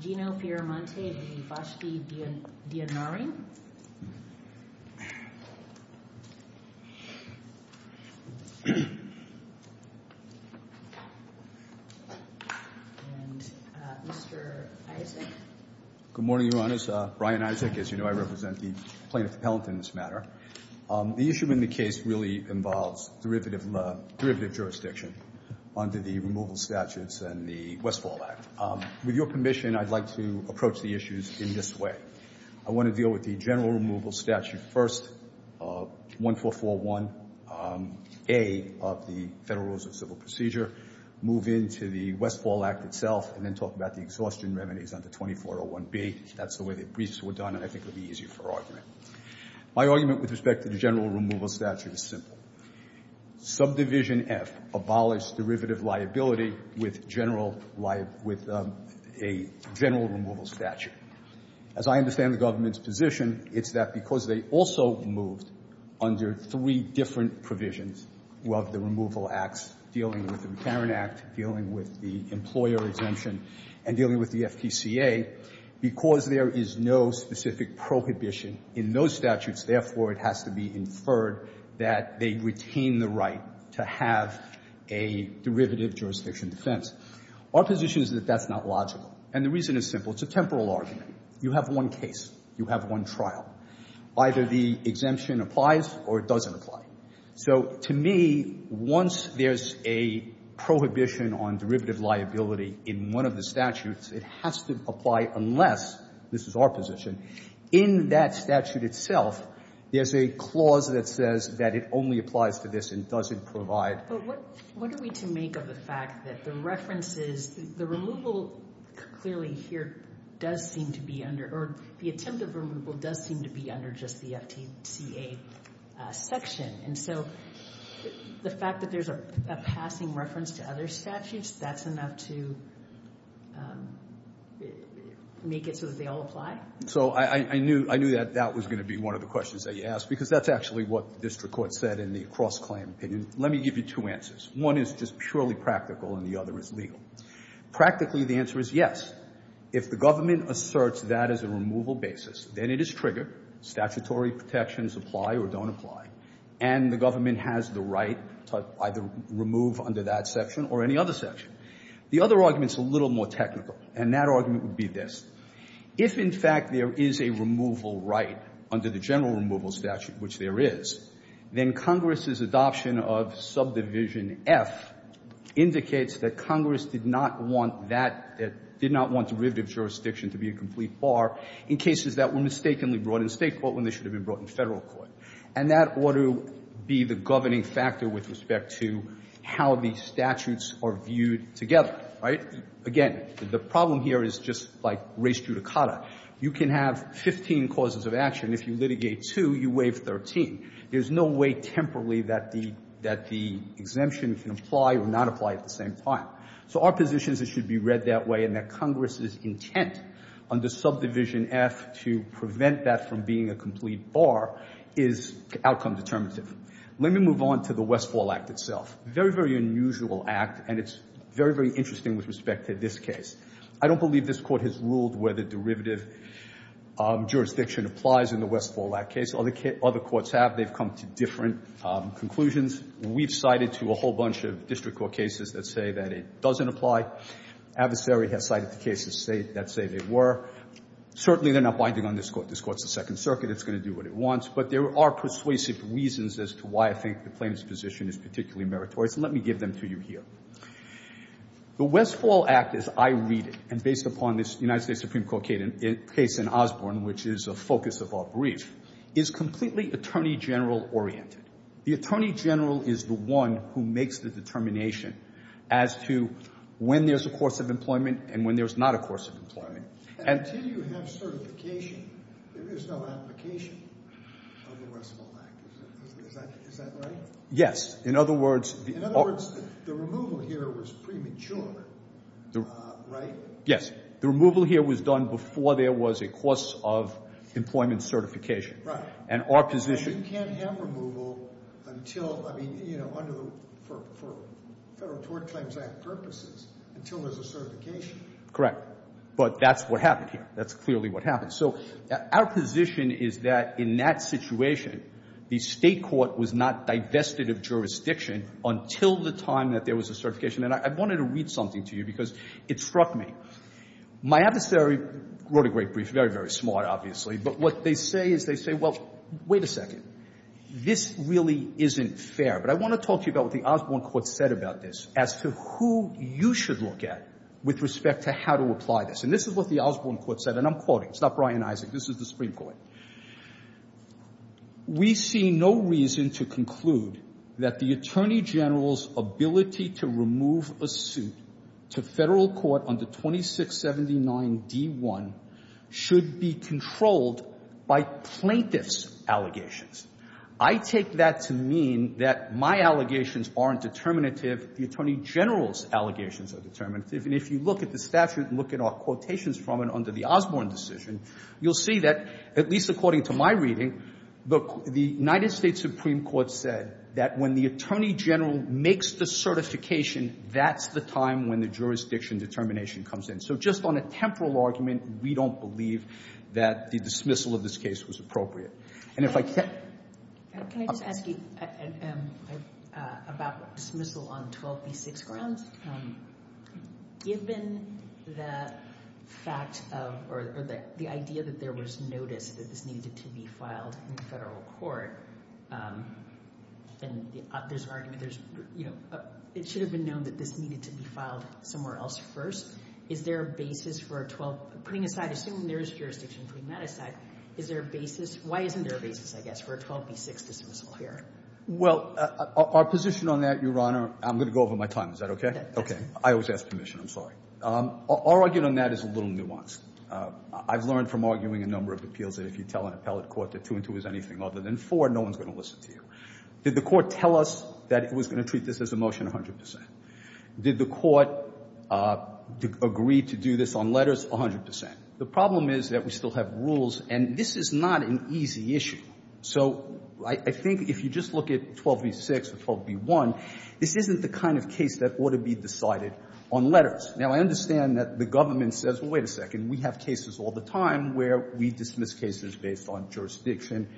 Gino Fiermonte v. Vashti Diyanarine. And Mr. Isaac. Good morning, Your Honors. Brian Isaac. As you know, I represent the plaintiff appellant in this matter. The issue in the case really involves derivative jurisdiction under the Removal Statutes and the Westfall Act. With your permission, I'd like to approach the issues in this way. I want to deal with the General Removal Statute first, 1441A of the Federal Rules of Civil Procedure, move into the Westfall Act itself, and then talk about the exhaustion remedies under 2401B. That's the way the briefs were done, and I think it would be easier for argument. My argument with respect to the General Removal Statute is simple. Subdivision F abolished derivative liability with a General Removal Statute. As I understand the government's position, it's that because they also moved under three different provisions of the Removal Acts dealing with the Retirement Act, dealing with the employer exemption, and dealing with the FPCA, because there is no specific prohibition in those statutes, therefore, it has to be inferred that they retain the right to have a derivative jurisdiction defense. Our position is that that's not logical, and the reason is simple. It's a temporal argument. You have one case. You have one trial. Either the exemption applies or it doesn't apply. So to me, once there's a prohibition on derivative liability in one of the statutes, it has to apply unless this is our position. In that statute itself, there's a clause that says that it only applies to this and doesn't provide. But what are we to make of the fact that the references, the removal clearly here does seem to be under or the attempt of removal does seem to be under just the FPCA section. And so the fact that there's a passing reference to other statutes, that's enough to make it so that they all apply? So I knew that that was going to be one of the questions that you asked, because that's actually what the district court said in the cross-claim opinion. Let me give you two answers. One is just purely practical, and the other is legal. Practically, the answer is yes. If the government asserts that as a removal basis, then it is triggered. Statutory protections apply or don't apply. And the government has the right to either remove under that section or any other section. The other argument is a little more technical, and that argument would be this. If, in fact, there is a removal right under the general removal statute, which there is, then Congress's adoption of subdivision F indicates that Congress did not want that, did not want derivative jurisdiction to be a complete bar in cases that were mistakenly brought in State court when they should have been brought in Federal court. And that ought to be the governing factor with respect to how the statutes are viewed together, right? Again, the problem here is just like race judicata. You can have 15 causes of action. If you litigate two, you waive 13. There's no way temporally that the exemption can apply or not apply at the same time. So our position is it should be read that way, and that Congress's intent under subdivision F to prevent that from being a complete bar is outcome determinative. Let me move on to the Westfall Act itself. Very, very unusual act, and it's very, very interesting with respect to this case. I don't believe this Court has ruled where the derivative jurisdiction applies in the Westfall Act case. Other courts have. They've come to different conclusions. We've cited to a whole bunch of district court cases that say that it doesn't apply. Adversary has cited the cases that say they were. Certainly, they're not binding on this Court. This Court's the Second Circuit. It's going to do what it wants. But there are persuasive reasons as to why I think the plaintiff's position is particularly meritorious, and let me give them to you here. The Westfall Act, as I read it, and based upon this United States Supreme Court case in Osborne, which is a focus of our brief, is completely attorney general oriented. The attorney general is the one who makes the determination as to when there's a course of employment and when there's not a course of employment. And until you have certification, there is no application of the Westfall Act. Is that right? Yes. In other words. In other words, the removal here was premature, right? Yes. The removal here was done before there was a course of employment certification. Right. And our position. You can't have removal until, I mean, you know, for Federal Tort Claims Act purposes until there's a certification. Correct. But that's what happened here. That's clearly what happened. So our position is that in that situation, the State court was not divested of jurisdiction until the time that there was a certification. And I wanted to read something to you because it struck me. My adversary wrote a great brief, very, very smart, obviously. But what they say is they say, well, wait a second. This really isn't fair. But I want to talk to you about what the Osborne Court said about this as to who you should look at with respect to how to apply this. And this is what the Osborne Court said, and I'm quoting. It's not Brian Isaac. This is the Supreme Court. We see no reason to conclude that the Attorney General's ability to remove a suit to Federal court under 2679d1 should be controlled by plaintiff's allegations. I take that to mean that my allegations aren't determinative. The Attorney General's allegations are determinative. And if you look at the statute and look at our quotations from it under the Osborne decision, you'll see that, at least according to my reading, the United States Supreme Court said that when the Attorney General makes the certification, that's the time when the jurisdiction determination comes in. So just on a temporal argument, we don't believe that the dismissal of this case was appropriate. And if I can – Can I just ask you about dismissal on 12b6 grounds? Given the fact of – or the idea that there was notice that this needed to be filed in Federal court, and there's an argument – it should have been known that this needed to be filed somewhere else first. Is there a basis for a 12 – putting aside – assuming there is jurisdiction putting that aside, is there a basis – why isn't there a basis, I guess, for a 12b6 dismissal here? Well, our position on that, Your Honor – I'm going to go over my time. Is that okay? Okay. I always ask permission. I'm sorry. Our argument on that is a little nuanced. I've learned from arguing a number of appeals that if you tell an appellate court that 2 and 2 is anything other than 4, no one's going to listen to you. Did the court tell us that it was going to treat this as a motion 100 percent? Did the court agree to do this on letters 100 percent? The problem is that we still have rules, and this is not an easy issue. So I think if you just look at 12b6 or 12b1, this isn't the kind of case that ought to be decided on letters. Now, I understand that the government says, well, wait a second, we have cases all the time where we dismiss cases based on jurisdiction,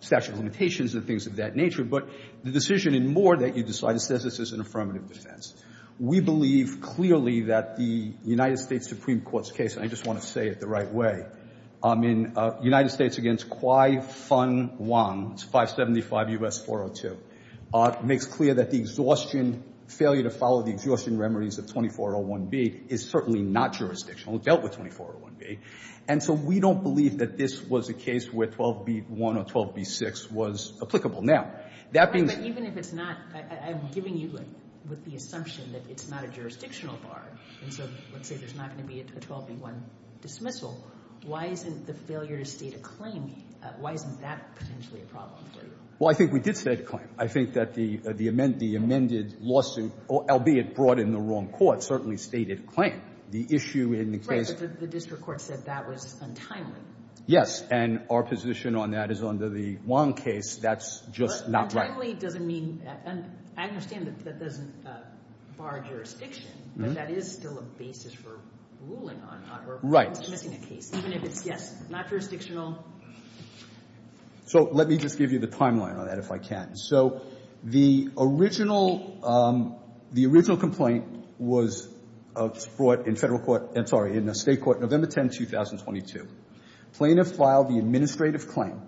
statute of limitations and things of that nature. But the decision in Moore that you decided says this is an affirmative defense. We believe clearly that the United States Supreme Court's case – and I just want to say it the right way – in United States against Kwai Fun Wong, it's 575 U.S. 402, makes clear that the exhaustion – failure to follow the exhaustion remedies of is certainly not jurisdictional. It dealt with 2401B. And so we don't believe that this was a case where 12b1 or 12b6 was applicable. Now, that means – But even if it's not – I'm giving you the assumption that it's not a jurisdictional bar, and so let's say there's not going to be a 12b1 dismissal. Why isn't the failure to state a claim – why isn't that potentially a problem for you? Well, I think we did state a claim. I think that the amended lawsuit, albeit brought in the wrong court, certainly stated a claim. The issue in the case – Right, but the district court said that was untimely. Yes, and our position on that is under the Wong case, that's just not right. But untimely doesn't mean – and I understand that that doesn't bar jurisdiction, but that is still a basis for ruling on her dismissing a case. Even if it's, yes, not jurisdictional. So let me just give you the timeline on that, if I can. So the original – the original complaint was brought in Federal court – sorry, in the State court November 10, 2022. Plaintiff filed the administrative claim,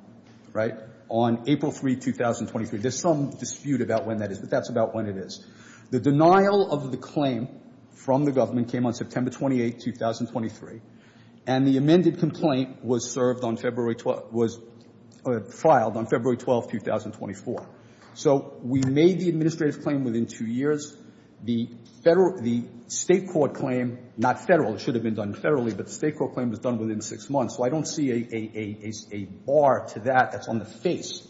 right, on April 3, 2023. There's some dispute about when that is, but that's about when it is. The denial of the claim from the government came on September 28, 2023, and the amended complaint was served on February 12 – was filed on February 12, 2024. So we made the administrative claim within two years. The Federal – the State court claim – not Federal, it should have been done Federally, but the State court claim was done within six months. So I don't see a bar to that that's on the face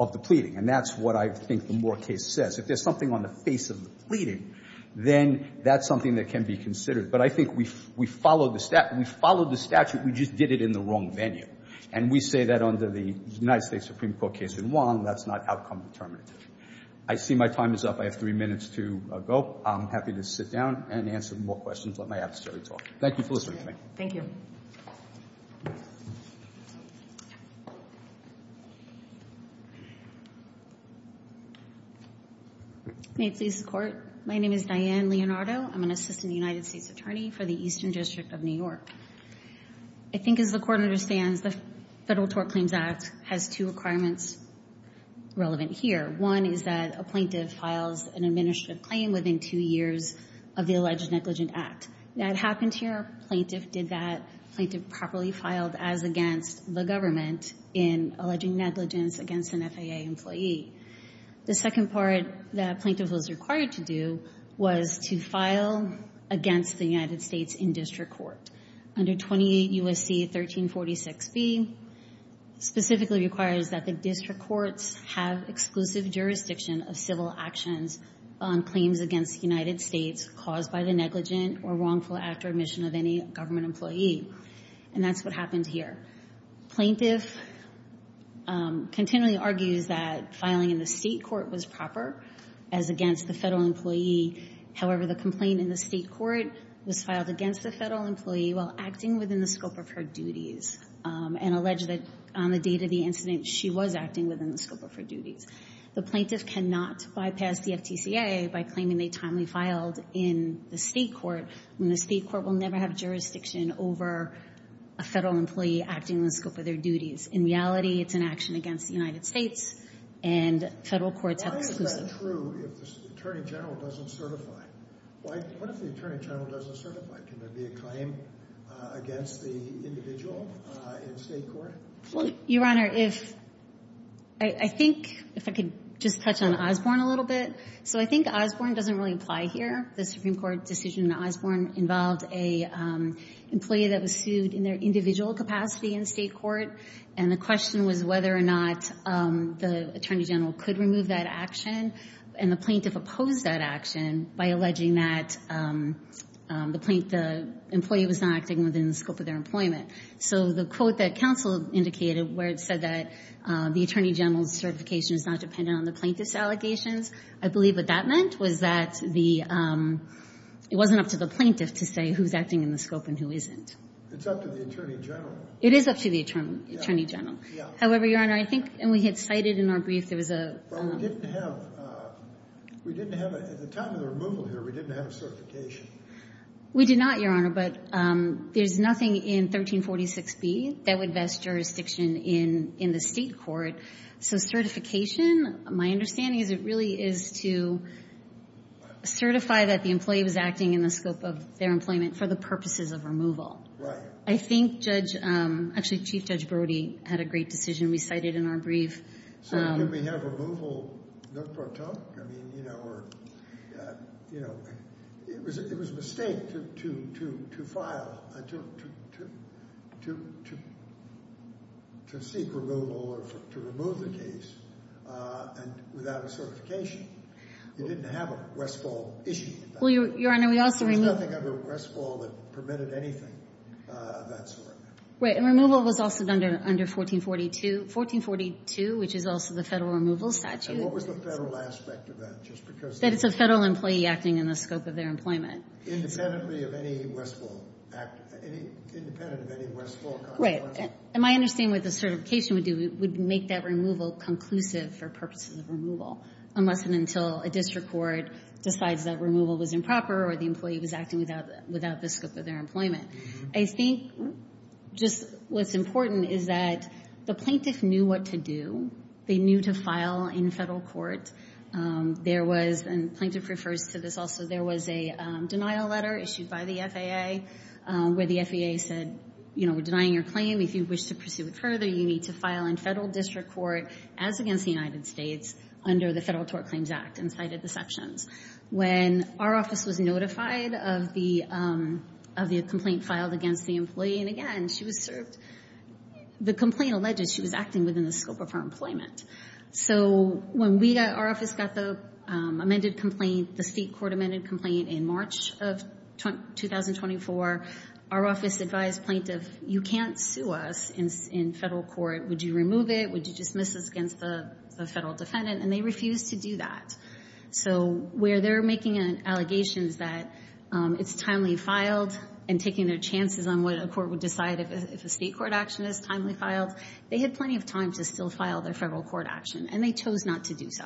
of the pleading, and that's what I think the Moore case says. If there's something on the face of the pleading, then that's something that can be considered. But I think we followed the statute. We followed the statute. We just did it in the wrong venue. And we say that under the United States Supreme Court case in Wong, that's not outcome determinative. I see my time is up. I have three minutes to go. I'm happy to sit down and answer more questions. Let my adversary talk. Thank you for listening to me. Thank you. May it please the Court. My name is Diane Leonardo. I'm an assistant United States attorney for the Eastern District of New York. I think as the Court understands, the Federal Tort Claims Act has two requirements relevant here. One is that a plaintiff files an administrative claim within two years of the alleged negligent act. That happened here. Plaintiff did that. Plaintiff properly filed as against the government in alleging negligence against an FAA employee. The second part that a plaintiff was required to do was to file against the United States in district court. Under 28 U.S.C. 1346B specifically requires that the district courts have exclusive jurisdiction of civil actions on claims against the United States caused by the negligent or wrongful act or admission of any government employee. And that's what happened here. Plaintiff continually argues that filing in the state court was proper as against the federal employee. However, the complaint in the state court was filed against a federal employee while acting within the scope of her duties and alleged that on the date of the incident, she was acting within the scope of her duties. The plaintiff cannot bypass the FTCA by claiming they timely filed in the state court when the state court will never have jurisdiction over a federal employee acting within the scope of their duties. In reality, it's an action against the United States and federal courts have exclusive. Why is that true if the attorney general doesn't certify? What if the attorney general doesn't certify? Can there be a claim against the individual in state court? Your Honor, I think if I could just touch on Osborne a little bit. So I think Osborne doesn't really apply here. The Supreme Court decision in Osborne involved an employee that was sued in their individual capacity in state court, and the question was whether or not the attorney general could remove that action. And the plaintiff opposed that action by alleging that the employee was not acting within the scope of their employment. So the quote that counsel indicated where it said that the attorney general's certification is not dependent on the plaintiff's allegations, I believe what that meant was that it wasn't up to the plaintiff to say who's acting in the scope and who isn't. It's up to the attorney general. It is up to the attorney general. However, Your Honor, I think we had cited in our brief there was a – But we didn't have – at the time of the removal here, we didn't have certification. We did not, Your Honor, but there's nothing in 1346B that would vest jurisdiction in the state court. So certification, my understanding is it really is to certify that the employee was acting in the scope of their employment for the purposes of removal. Right. I think Judge – actually, Chief Judge Brody had a great decision recited in our brief. So did we have removal no pro tonque? I mean, you know, or – you know, it was a mistake to file – to seek removal or to remove the case without a certification. You didn't have a Westfall issue. Well, Your Honor, we also removed – There was nothing under Westfall that permitted anything of that sort. Right, and removal was also done under 1442. 1442, which is also the federal removal statute. And what was the federal aspect of that, just because – That it's a federal employee acting in the scope of their employment. Independently of any Westfall – independent of any Westfall – Right. And my understanding of what the certification would do, it would make that removal conclusive for purposes of removal, unless and until a district court decides that removal was improper or the employee was acting without the scope of their employment. I think just what's important is that the plaintiff knew what to do. They knew to file in federal court. There was – and plaintiff refers to this also – there was a denial letter issued by the FAA where the FAA said, you know, we're denying your claim. If you wish to pursue it further, you need to file in federal district court, as against the United States, under the Federal Tort Claims Act and cited the sections. When our office was notified of the complaint filed against the employee, and again, she was served – the complaint alleged she was acting within the scope of her employment. So when we got – our office got the amended complaint, the state court amended complaint in March of 2024, our office advised plaintiff, you can't sue us in federal court. Would you remove it? Would you dismiss us against the federal defendant? And they refused to do that. So where they're making allegations that it's timely filed and taking their chances on what a court would decide if a state court action is timely filed, they had plenty of time to still file their federal court action, and they chose not to do so.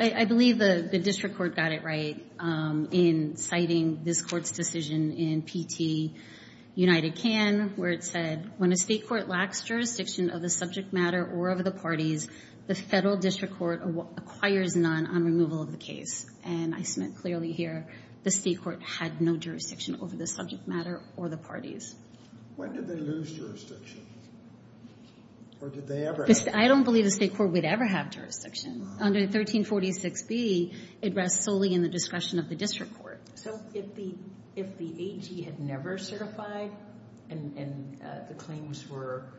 I believe the district court got it right in citing this court's decision in P.T. United can, where it said, when a state court lacks jurisdiction of the subject matter or of the parties, the federal district court acquires none on removal of the case. And I submit clearly here, the state court had no jurisdiction over the subject matter or the parties. When did they lose jurisdiction? Or did they ever have jurisdiction? I don't believe the state court would ever have jurisdiction. Under 1346B, it rests solely in the discretion of the district court. So if the AG had never certified and the claims were –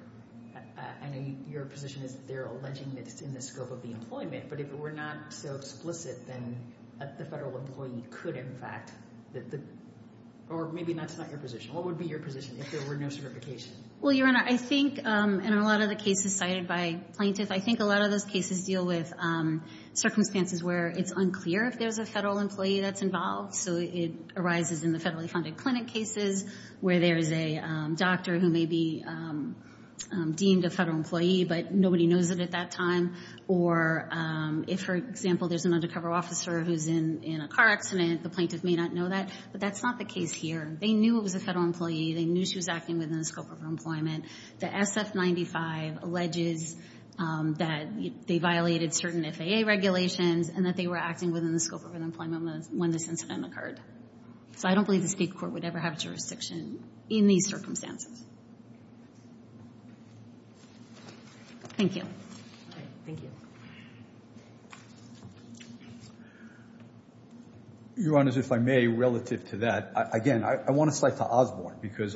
I know your position is they're alleging that it's in the scope of the employment, but if it were not so explicit, then the federal employee could in fact – or maybe that's not your position. What would be your position if there were no certification? Well, Your Honor, I think in a lot of the cases cited by plaintiffs, I think a lot of those cases deal with circumstances where it's unclear if there's a federal employee that's involved. So it arises in the federally funded clinic cases, where there is a doctor who may be deemed a federal employee, but nobody knows it at that time. Or if, for example, there's an undercover officer who's in a car accident, the plaintiff may not know that. But that's not the case here. They knew it was a federal employee. They knew she was acting within the scope of her employment. The SF-95 alleges that they violated certain FAA regulations and that they were acting within the scope of their employment when this incident occurred. So I don't believe the State court would ever have jurisdiction in these circumstances. Thank you. Thank you. Your Honors, if I may, relative to that, again, I want to cite to Osborne, because,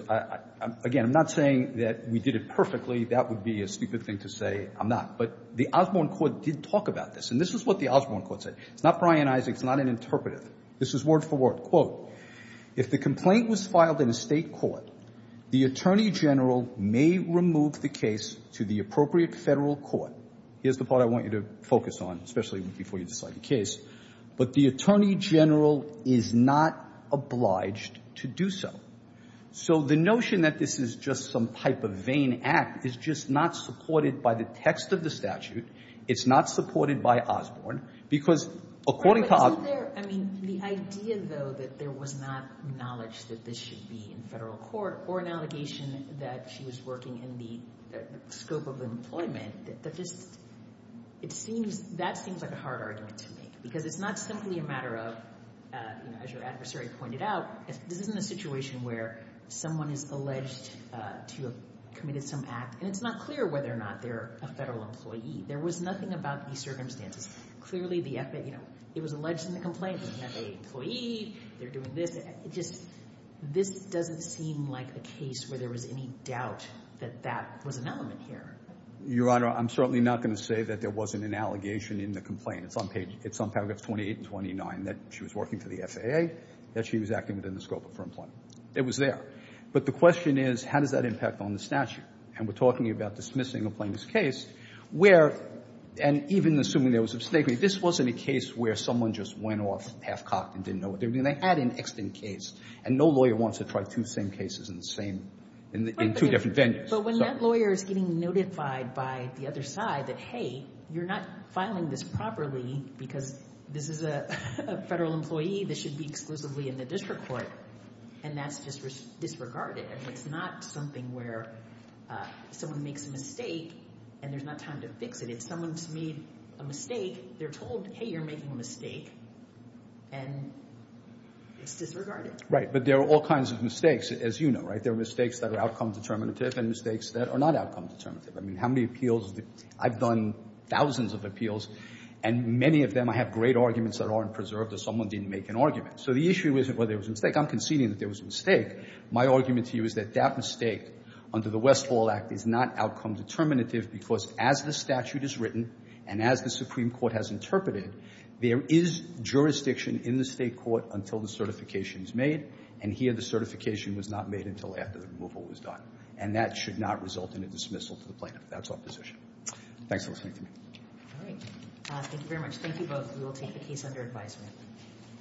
again, I'm not saying that we did it perfectly. That would be a stupid thing to say. I'm not. But the Osborne court did talk about this. And this is what the Osborne court said. It's not Brian Isaac. It's not an interpretive. This is word for word. Quote, if the complaint was filed in a State court, the Attorney General may remove the case to the appropriate federal court. Here's the part I want you to focus on, especially before you decide the case. But the Attorney General is not obliged to do so. So the notion that this is just some type of vain act is just not supported by the text of the statute. It's not supported by Osborne. But isn't there, I mean, the idea, though, that there was not knowledge that this should be in federal court or an allegation that she was working in the scope of employment, that just seems like a hard argument to make. Because it's not simply a matter of, as your adversary pointed out, this isn't a situation where someone is alleged to have committed some act, and it's not clear whether or not they're a federal employee. There was nothing about these circumstances. Clearly, it was alleged in the complaint, they have an employee, they're doing this. It just, this doesn't seem like a case where there was any doubt that that was an element here. Your Honor, I'm certainly not going to say that there wasn't an allegation in the complaint. It's on paragraph 28 and 29 that she was working for the FAA, that she was acting within the scope of her employment. It was there. But the question is, how does that impact on the statute? And we're talking about dismissing a plaintiff's case where, and even assuming there was a mistake, this wasn't a case where someone just went off half-cocked and didn't know what they were doing. They had an extant case. And no lawyer wants to try two same cases in the same, in two different venues. But when that lawyer is getting notified by the other side that, hey, you're not filing this properly because this is a federal employee that should be exclusively in the district court, and that's disregarded, it's not something where someone makes a mistake and there's not time to fix it. If someone's made a mistake, they're told, hey, you're making a mistake, and it's disregarded. Right. But there are all kinds of mistakes, as you know, right? There are mistakes that are outcome determinative and mistakes that are not outcome determinative. I mean, how many appeals, I've done thousands of appeals, and many of them I have great arguments that aren't preserved or someone didn't make an argument. So the issue isn't whether it was a mistake. I'm conceding that there was a mistake. My argument to you is that that mistake under the Westfall Act is not outcome determinative because as the statute is written and as the Supreme Court has interpreted, there is jurisdiction in the state court until the certification is made, and here the certification was not made until after the removal was done. And that should not result in a dismissal to the plaintiff. That's our position. Thanks for listening to me. All right. Thank you very much. Thank you both. We will take the case under advisement.